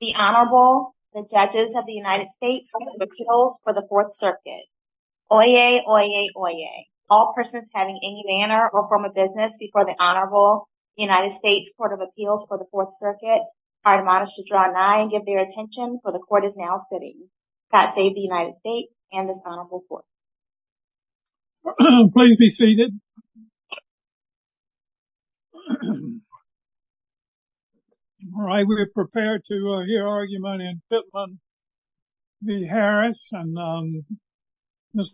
The Honorable, the Judges of the United States Court of Appeals for the 4th Circuit. Oyez! Oyez! Oyez! All persons having any manner or form of business before the Honorable United States Court of Appeals for the 4th Circuit are admonished to draw an eye and give their attention, for the Court is now sitting. God Save the United States and this Honorable Court. Please be seated. All right, we are prepared to hear argument in Fitland v. Harris. Mr.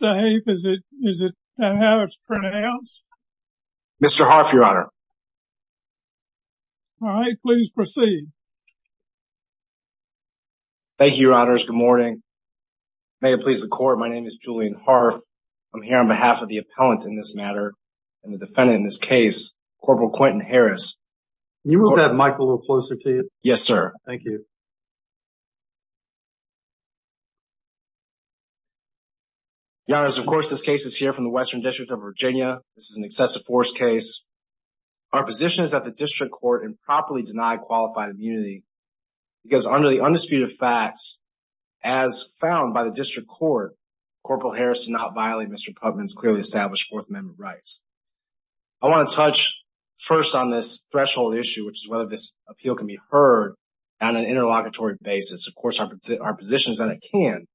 Hafe, is that how it's pronounced? Mr. Harf, Your Honor. All right, please proceed. Thank you, Your Honors. Good morning. May it please the Court, my name is Julian Harf. I'm here on behalf of the appellant in this matter and the defendant in this case, Corporal Quentin Harris. Can you move that mic a little closer to you? Yes, sir. Thank you. Your Honors, of course, this case is here from the Western District of Virginia. This is an excessive force case. Our position is that the District Court improperly denied qualified immunity because under the found by the District Court, Corporal Harris did not violate Mr. Putman's clearly established Fourth Amendment rights. I want to touch first on this threshold issue, which is whether this appeal can be heard on an interlocutory basis. Of course, our position is that it can.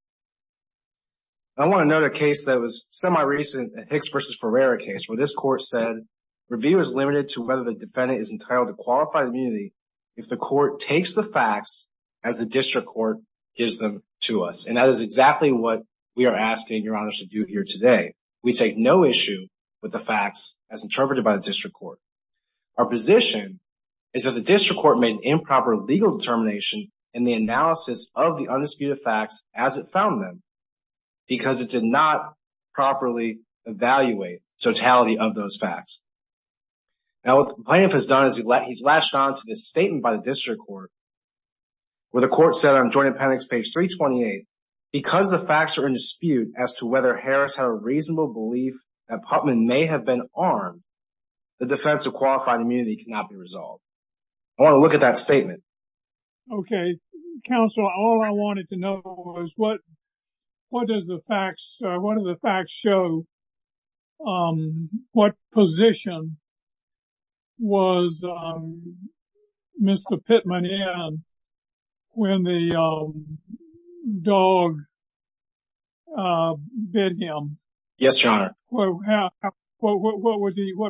I want to note a case that was semi-recent, a Hicks v. Ferreira case, where this Court said, review is limited to whether the defendant is entitled to qualified immunity if the Court takes the facts as the District Court gives them to us. And that is exactly what we are asking Your Honors to do here today. We take no issue with the facts as interpreted by the District Court. Our position is that the District Court made improper legal determination in the analysis of the undisputed facts as it found them because it did not properly evaluate totality of those facts. Now, what the plaintiff has done is he's latched on to this statement by the District Court where the Court said on Joint Appendix page 328, because the facts are in dispute as to whether Harris had a reasonable belief that Putman may have been armed, the defense of qualified immunity cannot be resolved. I want to look at that statement. Okay. Counsel, all I wanted to know was what does the facts, what do the facts show? What position was Mr. Putman in when the dog bit him? Yes, Your Honor. What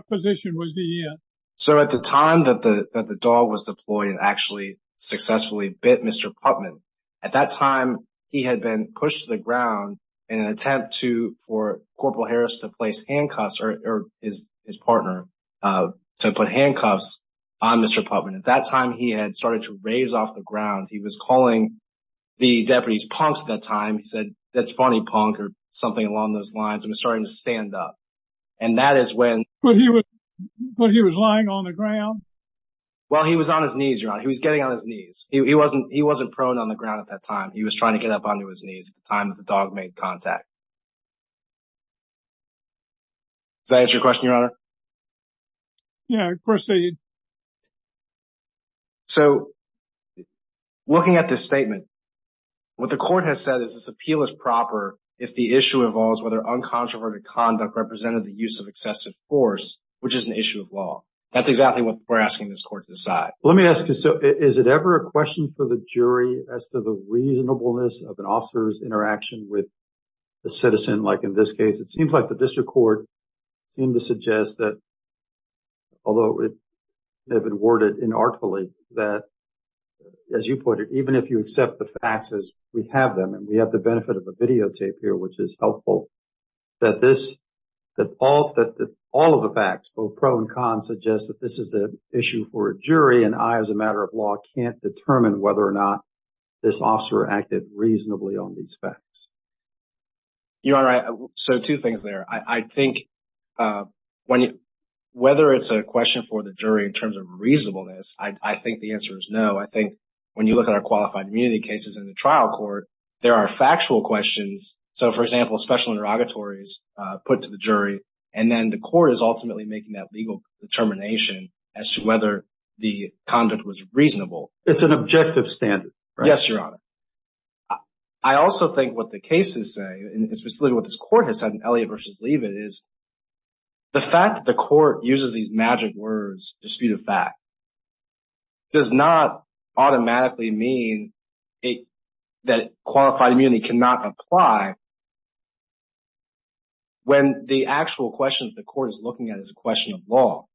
position was he in? So at the time that the dog was deployed and actually successfully bit Mr. Putman, at that time, he had been pushed to the ground in an attempt for Corporal Harris to place handcuffs or his partner to put handcuffs on Mr. Putman. At that time, he had started to raise off the ground. He was calling the deputies punks at that time. He said, that's funny punk or something along those lines and was starting to stand up. But he was lying on the ground? Well, he was on his knees, Your Honor. He was getting on his knees. He wasn't prone on the ground at that time. He was trying to get up onto his knees at the time that the dog made contact. Does that answer your question, Your Honor? Yeah, of course it did. So looking at this statement, what the Court has said is this appeal is proper if the issue is under the use of excessive force, which is an issue of law. That's exactly what we're asking this Court to decide. Let me ask you, is it ever a question for the jury as to the reasonableness of an officer's interaction with a citizen, like in this case? It seems like the District Court seemed to suggest that, although it may have been worded inartfully, that, as you put it, even if you accept the facts as we have them, and we have the benefit of a videotape here, which is helpful, that all of the facts, both pro and con, suggest that this is an issue for a jury, and I, as a matter of law, can't determine whether or not this officer acted reasonably on these facts. Your Honor, so two things there. I think whether it's a question for the jury in terms of reasonableness, I think the answer is no. I think when you look at our qualified immunity cases in the trial court, there are factual questions. So, for example, special interrogatories put to the jury, and then the Court is ultimately making that legal determination as to whether the conduct was reasonable. It's an objective standard, right? Yes, Your Honor. I also think what the cases say, and specifically what this Court has said in Elliott v. Leavitt, is the fact that the Court uses these magic words, dispute of fact, does not automatically mean that qualified immunity cannot apply when the actual question that the Court is looking at is a question of law.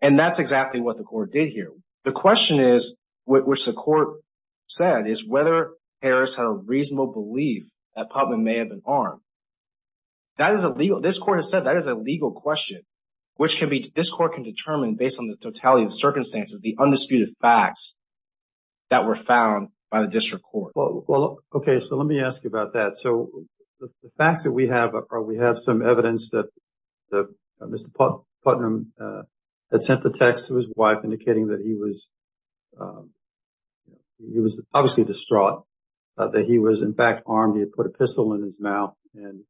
And that's exactly what the Court did here. The question is, which the Court said, is whether Harris had a reasonable belief that Putnam may have been armed. This Court has said that is a legal question, which this Court can determine based on the totality of the circumstances, the undisputed facts that were found by the district court. Okay, so let me ask you about that. So, the facts that we have are we have some evidence that Mr. Putnam had sent the text to his wife indicating that he was obviously distraught, that he was in fact armed. He had put a pistol in his mouth and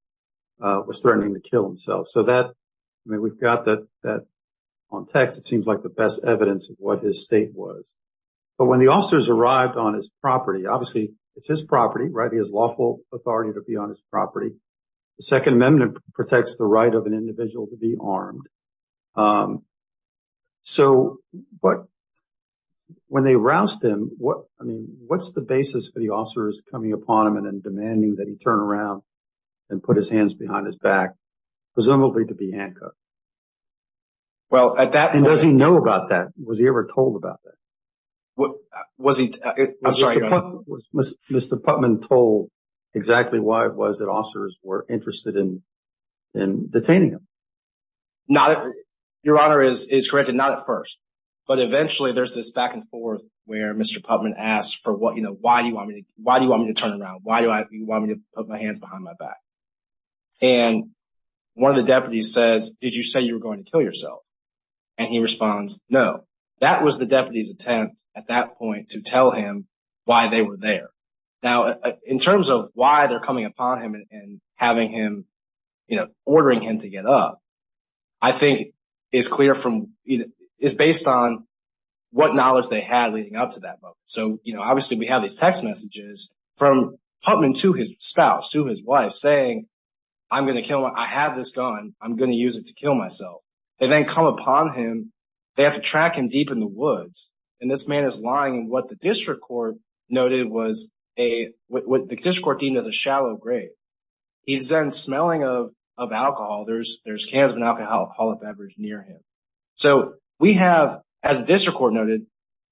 was threatening to kill himself. So that, I mean, we've got that on text. It seems like the best evidence of what his state was. But when the officers arrived on his property, obviously it's his property, right? He has lawful authority to be on his property. The Second Amendment protects the right of an individual to be armed. So, but when they roused him, I mean, what's the basis for the officers coming upon him and demanding that he turn around and put his hands behind his back, presumably to be handcuffed? Well, at that point... And does he know about that? Was he ever told about that? Was he... I'm sorry, Your Honor. Was Mr. Putnam told exactly why it was that officers were interested in detaining him? Your Honor is correct. Not at first. But eventually there's this back and forth where Mr. Putnam asked for what, you know, why do you want me to turn around? Why do you want me to put my hands behind my back? And one of the deputies says, did you say you were going to kill yourself? And he responds, no. That was the deputy's attempt at that point to tell him why they were there. Now, in terms of why they're coming upon him and having him, you know, ordering him to get up, I think it's clear from, it's based on what knowledge they had leading up to that moment. So, you know, obviously we have these text messages from Putnam to his spouse, to his wife, saying I'm going to kill him. I have this gun. I'm going to use it to kill myself. They then come upon him. They have to track him deep in the woods. And this man is lying in what the district court noted was a, what the district court deemed as a shallow grave. He's then smelling of alcohol. There's cans of an alcoholic beverage near him. So we have, as the district court noted,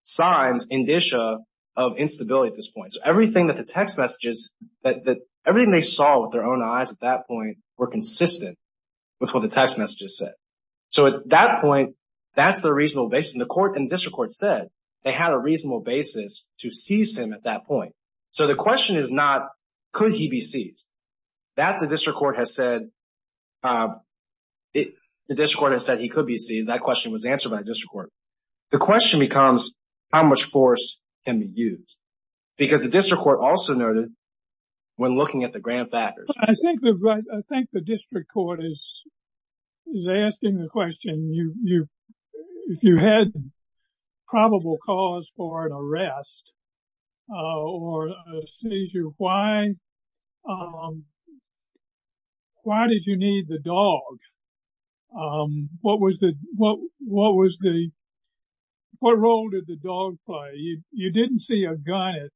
signs, indicia of instability at this point. So everything that the text messages, everything they saw with their own eyes at that point were consistent with what the text messages said. So at that point, that's the reasonable basis. And the district court said they had a reasonable basis to seize him at that point. So the question is not could he be seized. That the district court has said, the district court has said he could be seized. That question was answered by the district court. The question becomes how much force can be used? Because the district court also noted when looking at the grand factors. I think the district court is asking the question, if you had probable cause for an arrest or a seizure, why did you need the dog? What was the, what role did the dog play? You didn't see a gun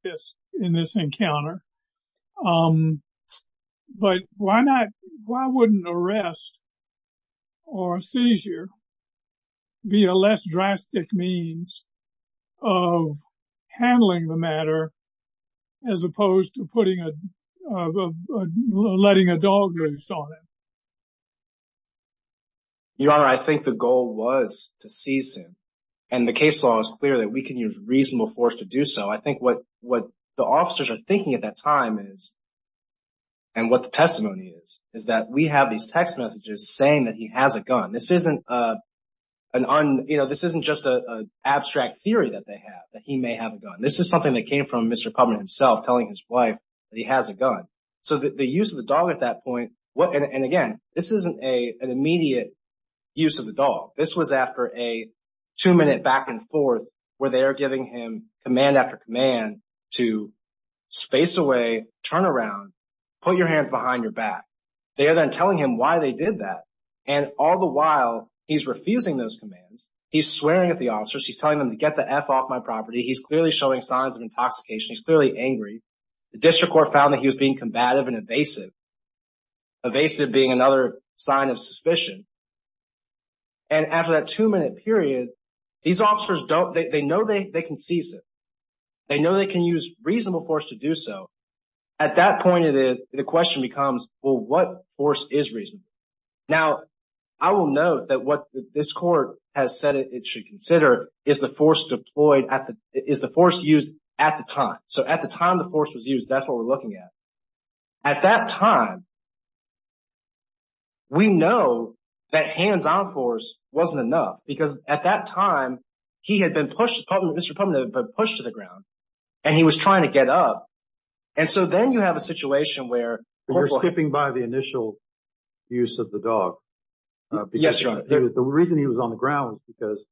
in this encounter. But why not, why wouldn't arrest or seizure be a less drastic means of handling the matter as opposed to putting a, letting a dog loose on him? Your Honor, I think the goal was to seize him. And the case law is clear that we can use reasonable force to do so. I think what the officers are thinking at that time is, and what the testimony is, is that we have these text messages saying that he has a gun. This isn't an, you know, this isn't just an abstract theory that they have, that he may have a gun. This is something that came from Mr. Publin himself telling his wife that he has a gun. So the use of the dog at that point, and again, this isn't an immediate use of the dog. This was after a two-minute back and forth where they are giving him command after command to space away, turn around, put your hands behind your back. They are then telling him why they did that. And all the while, he's refusing those commands. He's swearing at the officers. He's telling them to get the F off my property. He's clearly showing signs of intoxication. He's clearly angry. The district court found that he was being combative and evasive, evasive being another sign of suspicion. And after that two-minute period, these officers don't, they know they can seize him. They know they can use reasonable force to do so. At that point, the question becomes, well, what force is reasonable? Now, I will note that what this court has said it should consider is the force deployed at the, is the force used at the time. So at the time the force was used, that's what we're looking at. At that time, we know that hands-on force wasn't enough because at that time, he had been pushed, Mr. Putnam had been pushed to the ground, and he was trying to get up. And so then you have a situation where— You're skipping by the initial use of the dog. Yes, Your Honor. The reason he was on the ground is because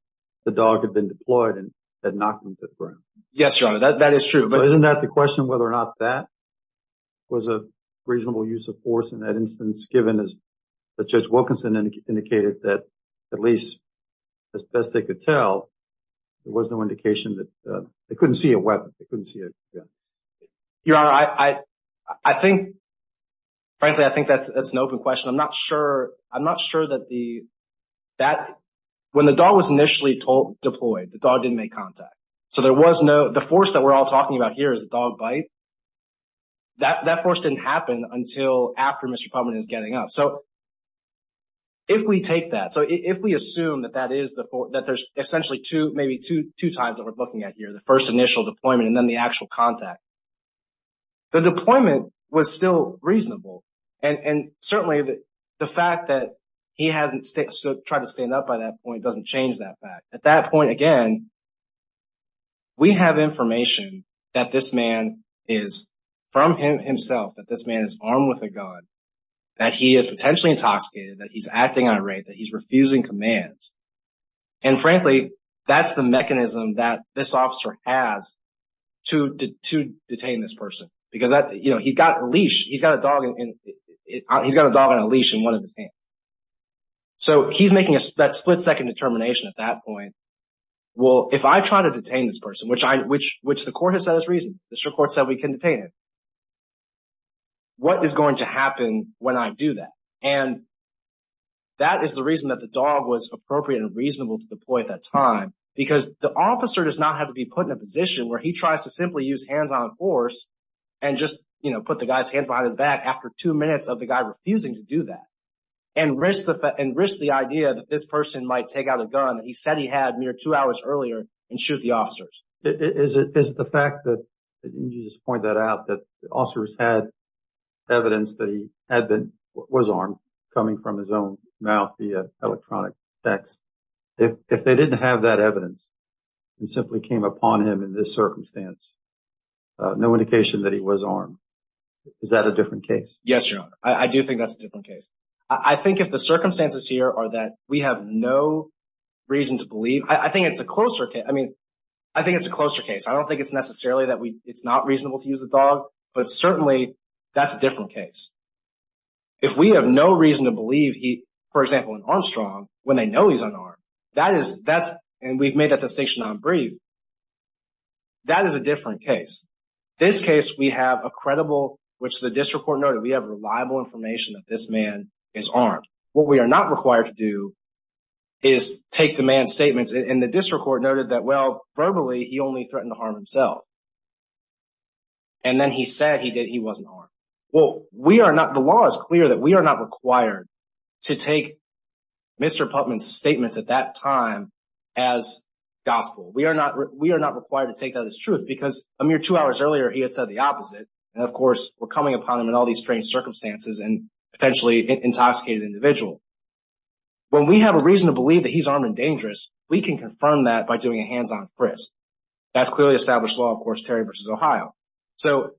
the dog had been deployed and had knocked him to the ground. Yes, Your Honor. That is true. So isn't that the question, whether or not that was a reasonable use of force in that instance, given as Judge Wilkinson indicated that at least as best they could tell, there was no indication that they couldn't see a weapon, they couldn't see a gun? Your Honor, I think, frankly, I think that's an open question. I'm not sure, I'm not sure that the, that, when the dog was initially deployed, the dog didn't make contact. So there was no—the force that we're all talking about here is a dog bite. That force didn't happen until after Mr. Putnam is getting up. So if we take that, so if we assume that that is the—that there's essentially two, maybe two times that we're looking at here, the first initial deployment and then the actual contact, the deployment was still reasonable. And certainly the fact that he hasn't tried to stand up by that point doesn't change that fact. At that point, again, we have information that this man is, from him himself, that this man is armed with a gun, that he is potentially intoxicated, that he's acting on a rape, that he's refusing commands. And frankly, that's the mechanism that this officer has to detain this person because that, you know, he's got a leash, he's got a dog in—he's got a dog on a leash in one of his hands. So he's making that split-second determination at that point. Well, if I try to detain this person, which I—which the court has said is reasonable, the district court said we can detain him, what is going to happen when I do that? And that is the reason that the dog was appropriate and reasonable to deploy at that time because the officer does not have to be put in a position where he tries to simply use hands-on force and just, you know, put the guy's hands behind his back after two minutes of the guy refusing to do that. And risk the—and risk the idea that this person might take out a gun that he said he had mere two hours earlier and shoot the officers. Is it—is the fact that—you just point that out, that officers had evidence that he had been—was armed coming from his own mouth via electronic text. If they didn't have that evidence and simply came upon him in this circumstance, no indication that he was armed, is that a different case? Yes, Your Honor. I do think that's a different case. I think if the circumstances here are that we have no reason to believe—I think it's a closer case. I mean, I think it's a closer case. I don't think it's necessarily that we—it's not reasonable to use the dog, but certainly, that's a different case. If we have no reason to believe he—for example, in Armstrong, when they know he's unarmed, that is—that's—and we've made that distinction on Bree, that is a different case. This case, we have a credible—which the district court noted, we have reliable information that this man is armed. What we are not required to do is take the man's statements, and the district court noted that, well, verbally, he only threatened to harm himself. And then he said he did—he wasn't armed. Well, we are not—the law is clear that we are not required to take Mr. Puppman's statements at that time as gospel. We are not—we are not required to take that as truth because a mere two hours earlier, he had said the opposite. And, of course, we're coming upon him in all these strange circumstances and potentially intoxicated the individual. When we have a reason to believe that he's armed and dangerous, we can confirm that by doing a hands-on frisk. That's clearly established law, of course, Terry v. Ohio. So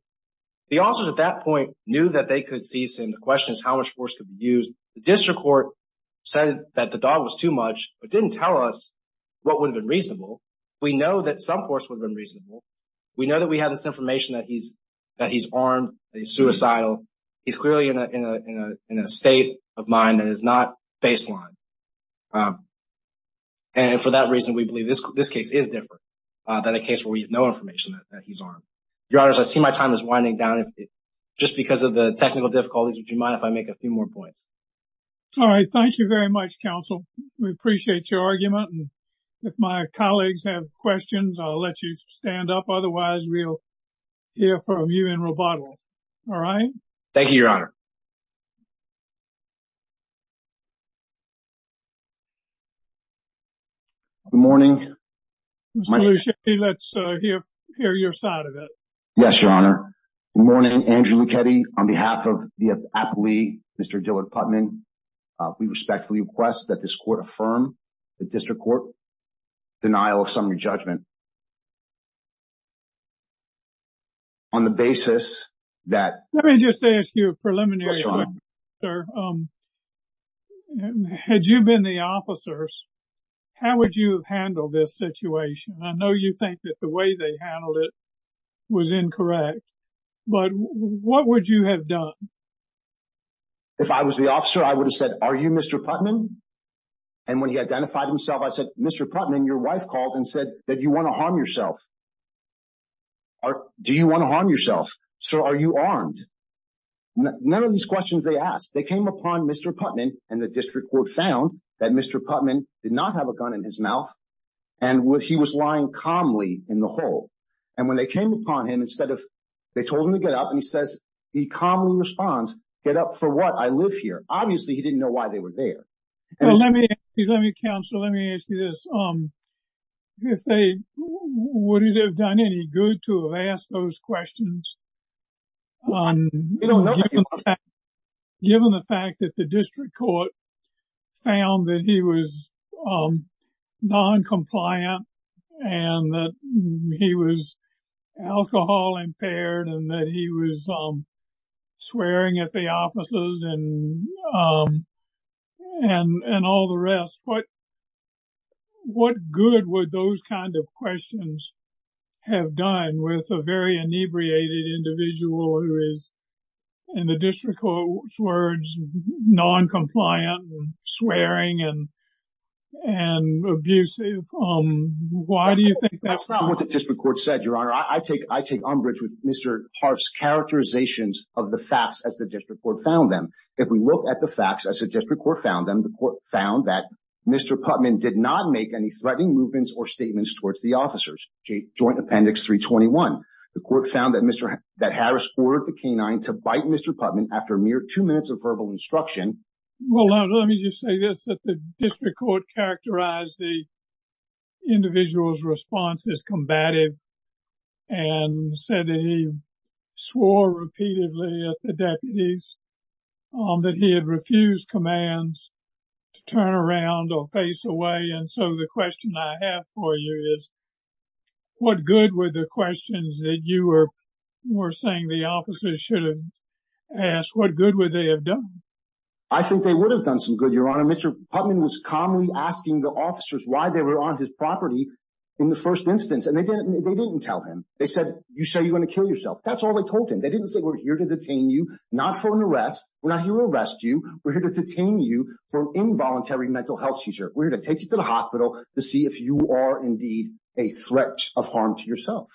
the officers at that point knew that they could seize him. The question is how much force could be used. The district court said that the dog was too much but didn't tell us what would have been reasonable. We know that some force would have been reasonable. We know that we have this information that he's armed, that he's suicidal. He's clearly in a state of mind that is not baseline. And for that reason, we believe this case is different than a case where we have no information that he's armed. Your Honors, I see my time is winding down. Just because of the technical difficulties, would you mind if I make a few more points? All right. Thank you very much, Counsel. We appreciate your argument. And if my colleagues have questions, I'll let you stand up. Otherwise, we'll hear from you in rebuttal. All right? Thank you, Your Honor. Good morning. Mr. Lucetti, let's hear your side of it. Yes, Your Honor. Good morning, Andrew Lucchetti. On behalf of the appellee, Mr. Dillard Putman, we respectfully request that this court affirm the district court's denial of summary judgment on the basis that… Yes, Your Honor. Had you been the officers, how would you have handled this situation? I know you think that the way they handled it was incorrect, but what would you have done? If I was the officer, I would have said, are you Mr. Putman? And when he identified himself, I said, Mr. Putman, your wife called and said that you want to harm yourself. Do you want to harm yourself? Sir, are you armed? None of these questions they asked. They came upon Mr. Putman, and the district court found that Mr. Putman did not have a gun in his mouth, and he was lying calmly in the hole. And when they came upon him, instead of… They told him to get up, and he says, he calmly responds, get up for what? I live here. Obviously, he didn't know why they were there. Counselor, let me ask you this. Would it have done any good to have asked those questions, given the fact that the district court found that he was noncompliant, and that he was alcohol impaired, and that he was swearing at the officers, and all the rest? What good would those kinds of questions have done with a very inebriated individual who is, in the district court's words, noncompliant, swearing, and abusive? Why do you think that's not… That's not what the district court said, Your Honor. I take umbrage with Mr. Harff's characterizations of the facts as the district court found them. If we look at the facts as the district court found them, the court found that Mr. Putman did not make any threatening movements or statements towards the officers. Joint Appendix 321. The court found that Mr. Harris ordered the canine to bite Mr. Putman after a mere two minutes of verbal instruction. Well, let me just say this, that the district court characterized the individual's response as combative, and said that he swore repeatedly at the deputies, that he had refused commands to turn around or face away. And so the question I have for you is, what good were the questions that you were saying the officers should have asked? What good would they have done? I think they would have done some good, Your Honor. Mr. Putman was calmly asking the officers why they were on his property in the first instance, and they didn't tell him. They said, you say you're going to kill yourself. That's all they told him. They didn't say, we're here to detain you, not for an arrest. We're not here to arrest you. We're here to detain you for an involuntary mental health seizure. We're here to take you to the hospital to see if you are indeed a threat of harm to yourself.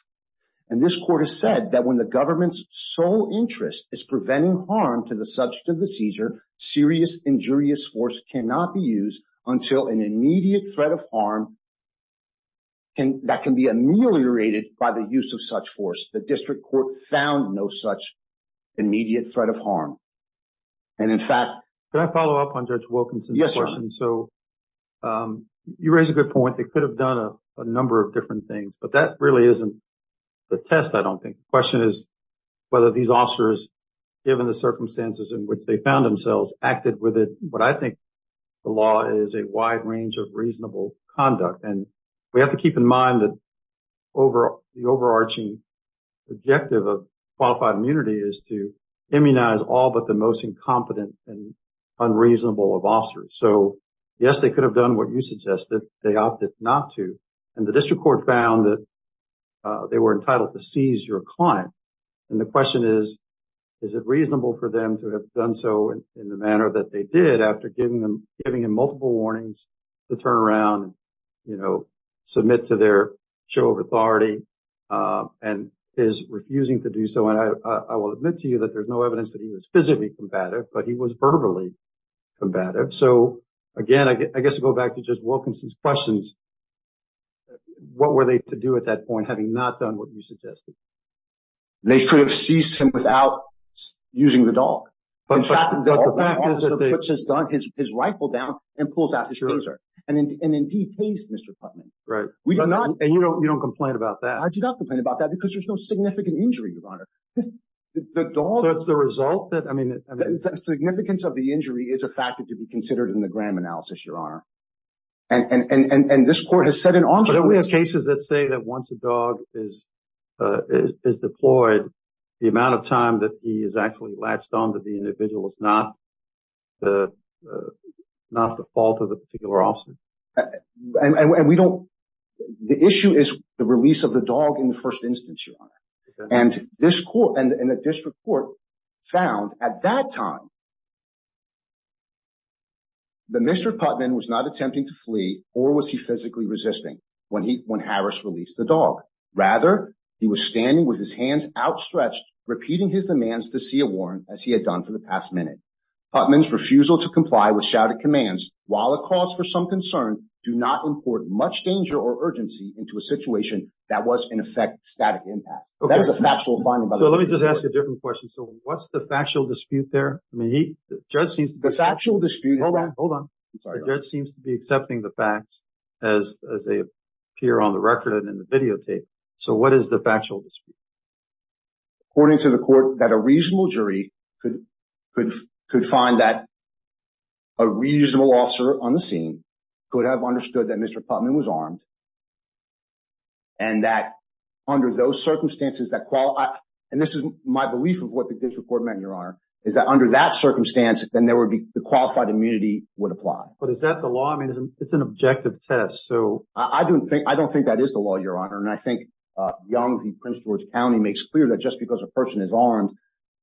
And this court has said that when the government's sole interest is preventing harm to the subject of the seizure, serious injurious force cannot be used until an immediate threat of harm that can be ameliorated by the use of such force. The district court found no such immediate threat of harm. And in fact— Can I follow up on Judge Wilkinson's question? Yes, Your Honor. So you raise a good point. They could have done a number of different things, but that really isn't the test, I don't think. The question is whether these officers, given the circumstances in which they found themselves, acted with it. What I think the law is a wide range of reasonable conduct. And we have to keep in mind that the overarching objective of qualified immunity is to immunize all but the most incompetent and unreasonable of officers. So, yes, they could have done what you suggested. They opted not to. And the district court found that they were entitled to seize your client. And the question is, is it reasonable for them to have done so in the manner that they did after giving him multiple warnings to turn around and, you know, submit to their show of authority and his refusing to do so? And I will admit to you that there's no evidence that he was physically combative, but he was verbally combative. So, again, I guess I'll go back to just Wilkinson's questions. What were they to do at that point, having not done what you suggested? They could have seized him without using the dog. In fact, the officer puts his rifle down and pulls out his taser and then decays Mr. Putnam. Right. And you don't complain about that. That's the result that I mean, the significance of the injury is a factor to be considered in the Graham analysis, Your Honor. And this court has said in all cases that say that once a dog is deployed, the amount of time that he is actually latched on to the individual is not the not the fault of the particular officer. And we don't. The issue is the release of the dog in the first instance. And this court and the district court found at that time. But Mr. Putnam was not attempting to flee or was he physically resisting when he when Harris released the dog? Rather, he was standing with his hands outstretched, repeating his demands to see a warrant, as he had done for the past minute. Putman's refusal to comply with shouted commands, while it calls for some concern, do not import much danger or urgency into a situation that was, in effect, static impasse. That is a factual finding. So let me just ask a different question. So what's the factual dispute there? I mean, the judge seems the factual dispute. Hold on. Hold on. It seems to be accepting the facts as they appear on the record and in the videotape. So what is the factual dispute? According to the court, that a reasonable jury could could could find that. A reasonable officer on the scene could have understood that Mr. Putman was armed. And that under those circumstances, that. And this is my belief of what the district court meant. Your honor is that under that circumstance, then there would be the qualified immunity would apply. But is that the law? I mean, it's an objective test. So I don't think I don't think that is the law. Your honor. And I think young Prince George County makes clear that just because a person is armed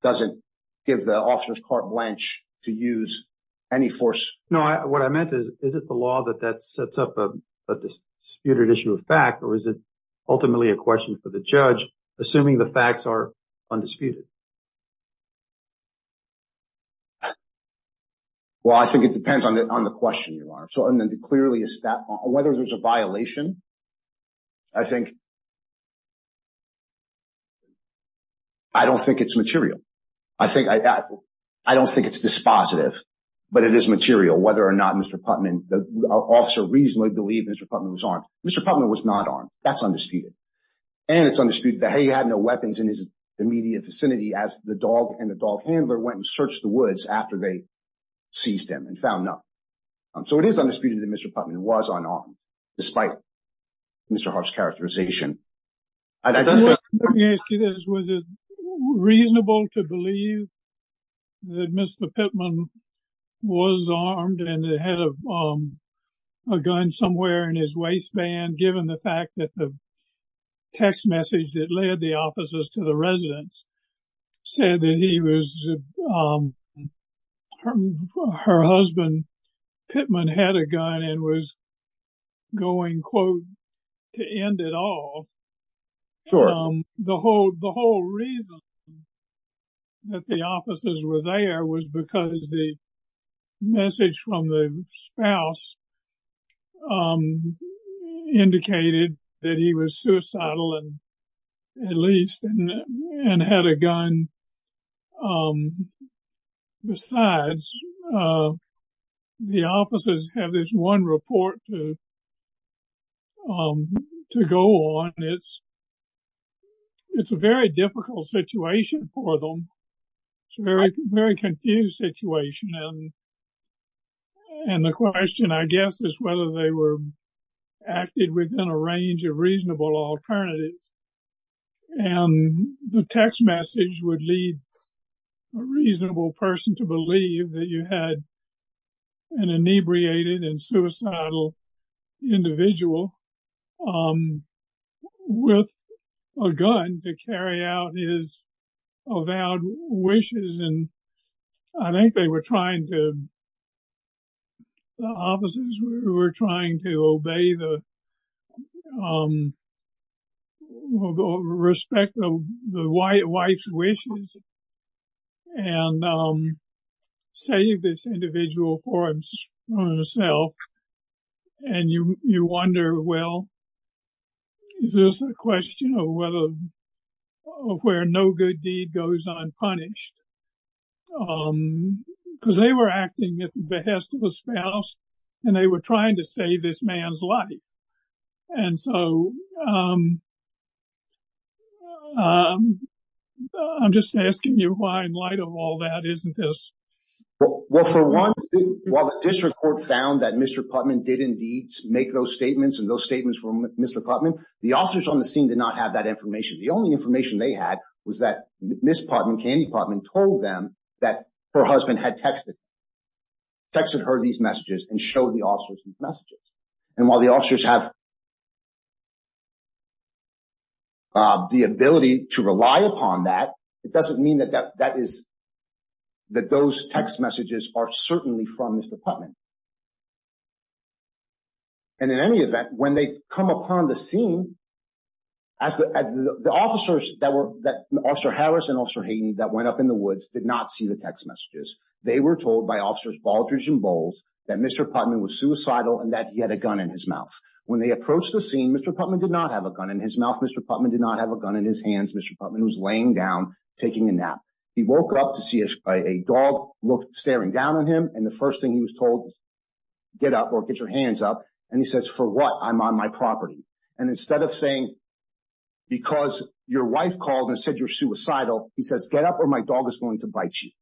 doesn't give the officers carte blanche to use any force. No. What I meant is, is it the law that that sets up a disputed issue of fact? Or is it ultimately a question for the judge? Assuming the facts are undisputed. Well, I think it depends on the on the question, your honor. So and then clearly, is that whether there's a violation? I think. I don't think it's material. I think I don't think it's dispositive, but it is material, whether or not Mr. Putman, the officer, reasonably believe Mr. Putman was armed. Mr. Putman was not armed. That's undisputed. And it's undisputed that he had no weapons in his immediate vicinity as the dog and the dog handler went and searched the woods after they seized him and found no. So it is undisputed that Mr. Putman was unarmed. Despite Mr. Hart's characterization. I don't see this. Was it reasonable to believe that Mr. Putman was armed and had a gun somewhere in his waistband, given the fact that the text message that led the officers to the residence said that he was. Her husband, Pittman, had a gun and was going, quote, to end it all. The whole the whole reason. That the officers were there was because the message from the spouse indicated that he was suicidal and at least had a gun. Besides, the officers have this one report to go on. It's it's a very difficult situation for them. Very, very confused situation. And the question, I guess, is whether they were acted within a range of reasonable alternatives and the text message would lead a reasonable person to believe that you had an inebriated and suicidal individual with a gun to carry out his avowed wishes. And I think they were trying to. The officers were trying to obey the. Respect the wife's wishes and save this individual for himself. And you wonder, well. Is this a question of whether or where no good deed goes unpunished? Because they were acting at the behest of a spouse and they were trying to save this man's life. And so. I'm just asking you why, in light of all that, isn't this. Well, for one, while the district court found that Mr. Putman did indeed make those statements and those statements from Mr. Putman, the officers on the scene did not have that information. The only information they had was that Miss Putman Candy Putman told them that her husband had texted. Texted her these messages and show the officers these messages. And while the officers have. The ability to rely upon that, it doesn't mean that that is. That those text messages are certainly from Mr. Putman. And in any event, when they come upon the scene. As the officers that were that Officer Harris and Officer Hayden that went up in the woods did not see the text messages. They were told by officers Baldridge and Bowles that Mr. Putman was suicidal and that he had a gun in his mouth when they approached the scene. Mr. Putman did not have a gun in his mouth. Mr. Putman did not have a gun in his hands. Mr. Putman was laying down taking a nap. He woke up to see a dog staring down on him. And the first thing he was told. Get up or get your hands up and he says for what I'm on my property and instead of saying. Because your wife called and said you're suicidal, he says, get up or my dog is going to bite you.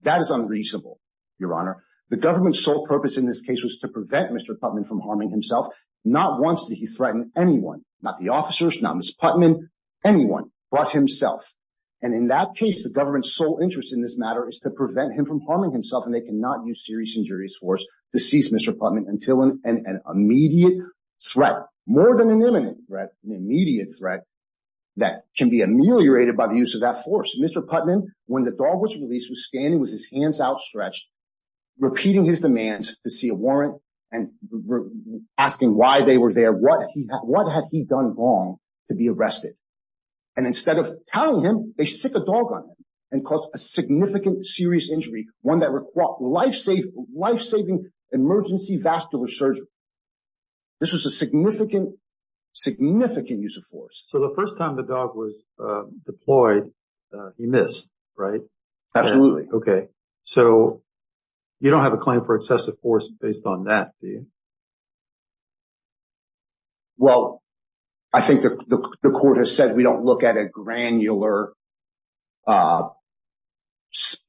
That is unreasonable, Your Honor. The government's sole purpose in this case was to prevent Mr. Putman from harming himself. Not once did he threaten anyone, not the officers, not Miss Putman, anyone but himself. And in that case, the government's sole interest in this matter is to prevent him from harming himself. And they cannot use serious injurious force to seize Mr. Putman until an immediate threat more than an imminent threat. An immediate threat that can be ameliorated by the use of that force. Mr. Putman, when the dog was released, was standing with his hands outstretched, repeating his demands to see a warrant and asking why they were there. What he had, what had he done wrong to be arrested? And instead of telling him, they stick a dog on him and cause a significant, serious injury. One that requires life saving, life saving emergency vascular surgery. This was a significant, significant use of force. So the first time the dog was deployed, he missed, right? Absolutely. Okay. So you don't have a claim for excessive force based on that, do you? Well, I think the court has said we don't look at a granular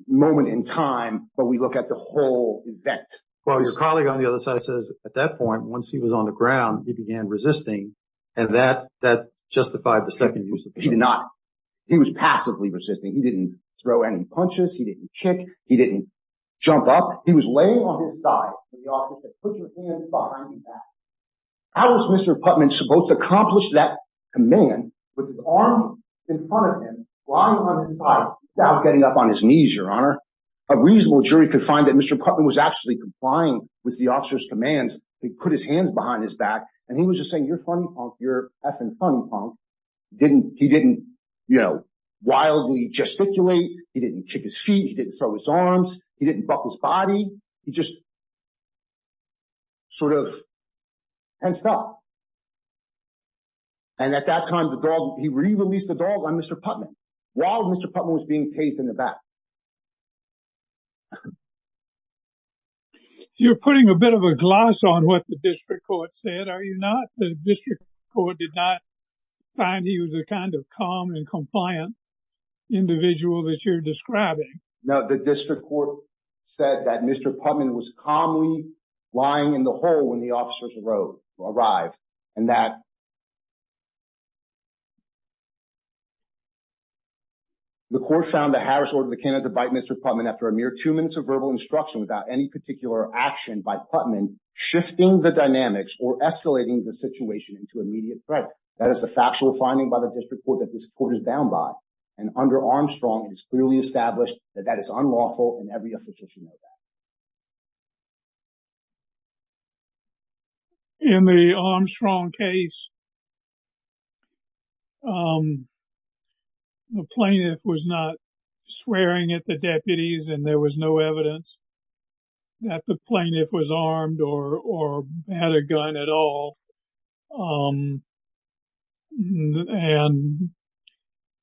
moment in time, but we look at the whole event. Well, his colleague on the other side says at that point, once he was on the ground, he began resisting. And that justified the second use of force. He did not. He was passively resisting. He didn't throw any punches. He didn't kick. He didn't jump up. He was laying on his side in the office and said, put your hands behind your back. How was Mr. Putman supposed to accomplish that command with his arms in front of him, lying on his side without getting up on his knees, Your Honor? A reasonable jury could find that Mr. Putman was actually complying with the officer's commands. He put his hands behind his back and he was just saying, you're funny, punk. You're effing funny, punk. He didn't wildly gesticulate. He didn't kick his feet. He didn't throw his arms. He didn't buck his body. He just sort of fenced up. And at that time, he re-released the dog on Mr. Putman while Mr. Putman was being tased in the back. You're putting a bit of a gloss on what the district court said, are you not? The district court did not find he was the kind of calm and compliant individual that you're describing. No, the district court said that Mr. Putman was calmly lying in the hole when the officers arrived and that the court found that Harris ordered the candidate to bite Mr. Putman after a mere two minutes of verbal instruction without any particular action by Putman, shifting the dynamics or escalating the situation into immediate threat. That is a factual finding by the district court that this court is bound by. And under Armstrong, it is clearly established that that is unlawful and every officer should know that. In the Armstrong case, the plaintiff was not swearing at the deputies and there was no evidence that the plaintiff was armed or had a gun at all. And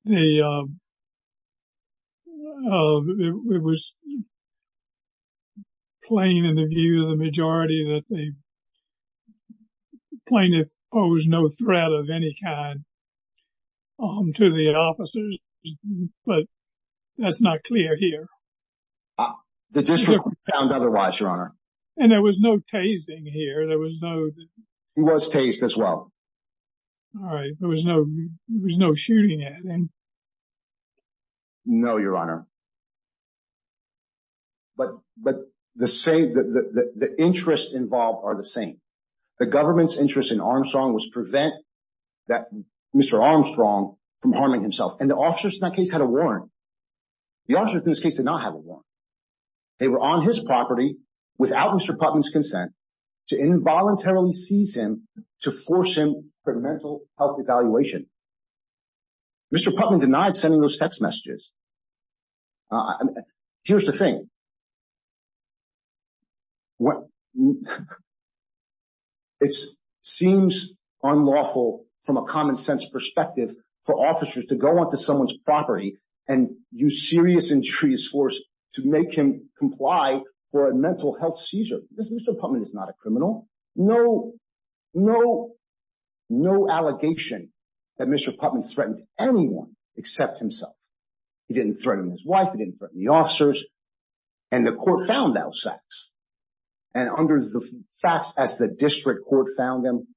it was plain in the view of the majority that the plaintiff posed no threat of any kind to the officers. But that's not clear here. The district court found otherwise, Your Honor. And there was no tasing here. He was tased as well. All right. There was no shooting at him. No, Your Honor. But the interests involved are the same. The government's interest in Armstrong was to prevent Mr. Armstrong from harming himself. And the officers in that case had a warrant. The officers in this case did not have a warrant. They were on his property without Mr. Putnam's consent to involuntarily seize him to force him for mental health evaluation. Mr. Putnam denied sending those text messages. Here's the thing. It seems unlawful from a common sense perspective for officers to go onto someone's property and use serious and serious force to make him comply for a mental health seizure. Mr. Putnam is not a criminal. No, no, no allegation that Mr. Putnam threatened anyone except himself. He didn't threaten his wife. He didn't threaten the officers. And the court found those facts. And under the facts as the district court found them,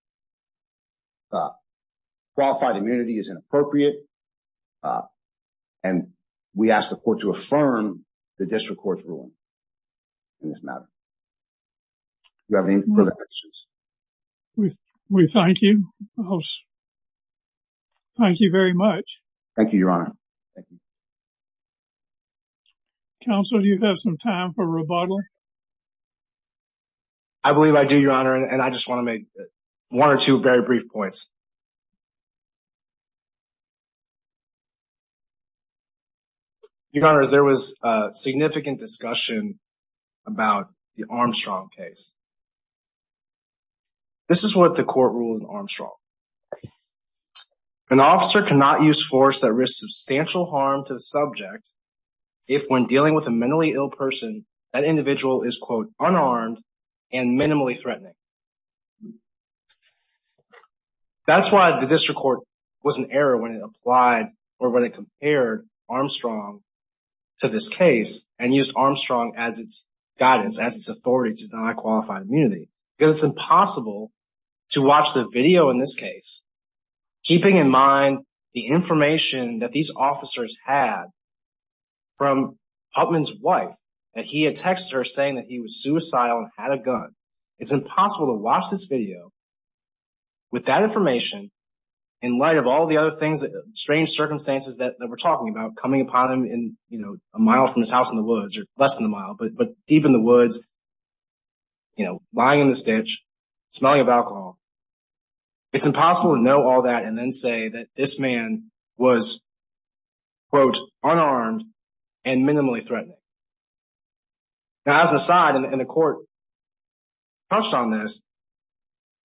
qualified immunity is inappropriate. And we ask the court to affirm the district court's ruling in this matter. Do you have any further questions? We thank you. Thank you very much. Thank you, Your Honor. Thank you. Counsel, do you have some time for rebuttal? I believe I do, Your Honor, and I just want to make one or two very brief points. Your Honor, there was significant discussion about the Armstrong case. This is what the court ruled in Armstrong. An officer cannot use force that risks substantial harm to the subject if, when dealing with a mentally ill person, that individual is, quote, unarmed and minimally threatening. That's why the district court was in error when it applied or when it compared Armstrong to this case and used Armstrong as its guidance, as its authority to deny qualified immunity. Because it's impossible to watch the video in this case, keeping in mind the information that these officers had from Huffman's wife, that he had texted her saying that he was suicidal and had a gun. It's impossible to watch this video with that information in light of all the other things, strange circumstances that we're talking about, coming upon him a mile from his house in the woods, or less than a mile, but deep in the woods, lying in the stitch, smelling of alcohol. It's impossible to know all that and then say that this man was, quote, unarmed and minimally threatening. Now, as an aside, and the court touched on this,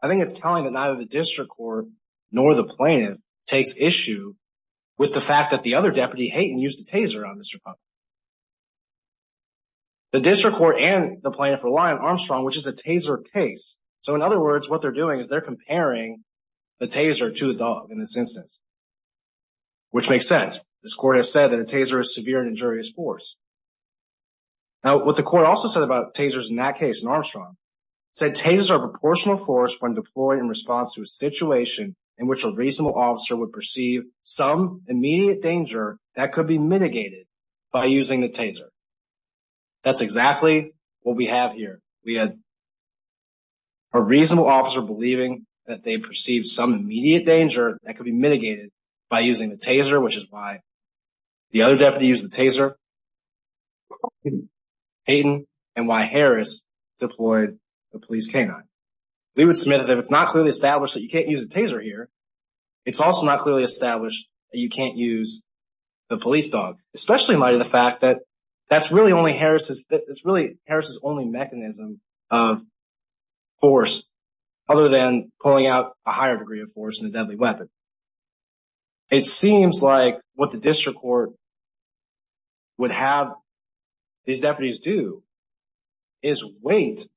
I think it's telling that neither the district court nor the plaintiff takes issue with the fact that the other deputy, Hayton, used a taser on Mr. Huffman. The district court and the plaintiff rely on Armstrong, which is a taser case. So, in other words, what they're doing is they're comparing the taser to the dog in this instance, which makes sense. This court has said that a taser is severe and injurious force. Now, what the court also said about tasers in that case, in Armstrong, said tasers are proportional force when deployed in response to a situation in which a reasonable officer would perceive some immediate danger that could be mitigated by using the taser. That's exactly what we have here. We had a reasonable officer believing that they perceived some immediate danger that could be mitigated by using the taser, which is why the other deputy used the taser, Hayton, and why Harris deployed the police canine. We would submit that if it's not clearly established that you can't use a taser here, it's also not clearly established that you can't use the police dog, especially in light of the fact that that's really only Harris's only mechanism of force other than pulling out a higher degree of force in a deadly weapon. It seems like what the district court would have these deputies do is wait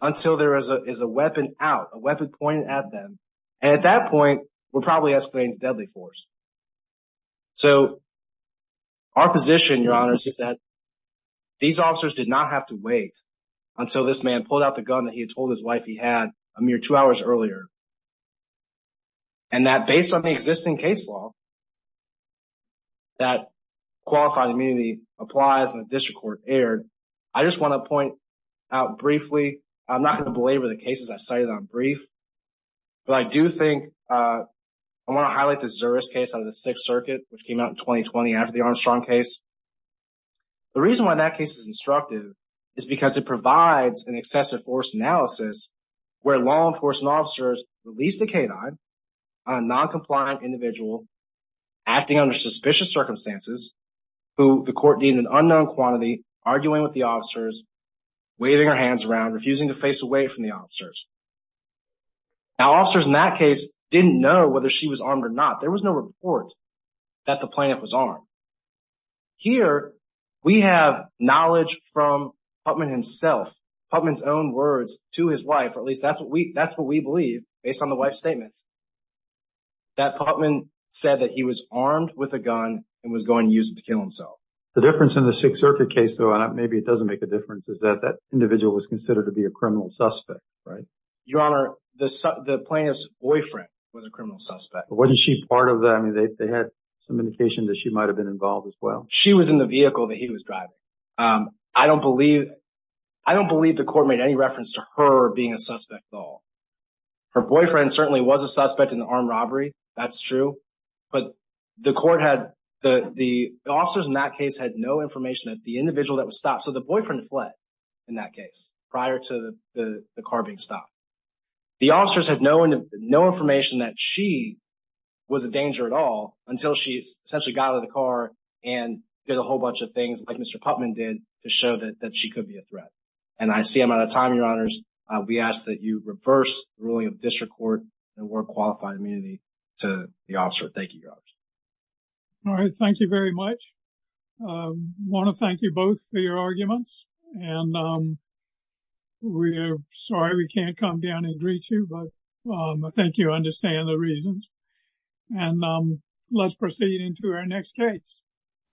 until there is a weapon out, a weapon pointed at them, and at that point, we're probably escalating to deadly force. So, our position, Your Honor, is that these officers did not have to wait until this man pulled out the gun that he had told his wife he had a mere two hours earlier, and that based on the existing case law that qualified immunity applies and the district court erred. I just want to point out briefly, I'm not going to belabor the cases I cited on brief, but I do think I want to highlight the Zuris case under the Sixth Circuit, which came out in 2020 after the Armstrong case. The reason why that case is instructive is because it provides an excessive force analysis where law enforcement officers released a K9 on a noncompliant individual acting under suspicious circumstances, who the court deemed an unknown quantity, arguing with the officers, waving her hands around, refusing to face away from the officers. Now, officers in that case didn't know whether she was armed or not. There was no report that the plaintiff was armed. Here, we have knowledge from Putman himself, Putman's own words to his wife, or at least that's what we believe based on the wife's statements, that Putman said that he was armed with a gun and was going to use it to kill himself. The difference in the Sixth Circuit case, though, and maybe it doesn't make a difference, is that that individual was considered to be a criminal suspect, right? Your Honor, the plaintiff's boyfriend was a criminal suspect. Wasn't she part of that? I mean, they had some indication that she might have been involved as well. She was in the vehicle that he was driving. I don't believe the court made any reference to her being a suspect at all. Her boyfriend certainly was a suspect in the armed robbery. That's true. But the officers in that case had no information that the individual that was stopped, so the boyfriend fled in that case prior to the car being stopped. The officers had no information that she was a danger at all until she essentially got out of the car and did a whole bunch of things like Mr. Putman did to show that she could be a threat. And I see I'm out of time, Your Honors. We ask that you reverse the ruling of District Court and award qualified immunity to the officer. Thank you, Your Honors. All right. Thank you very much. I want to thank you both for your arguments. And we're sorry we can't come down and greet you, but I think you understand the reasons. And let's proceed into our next case.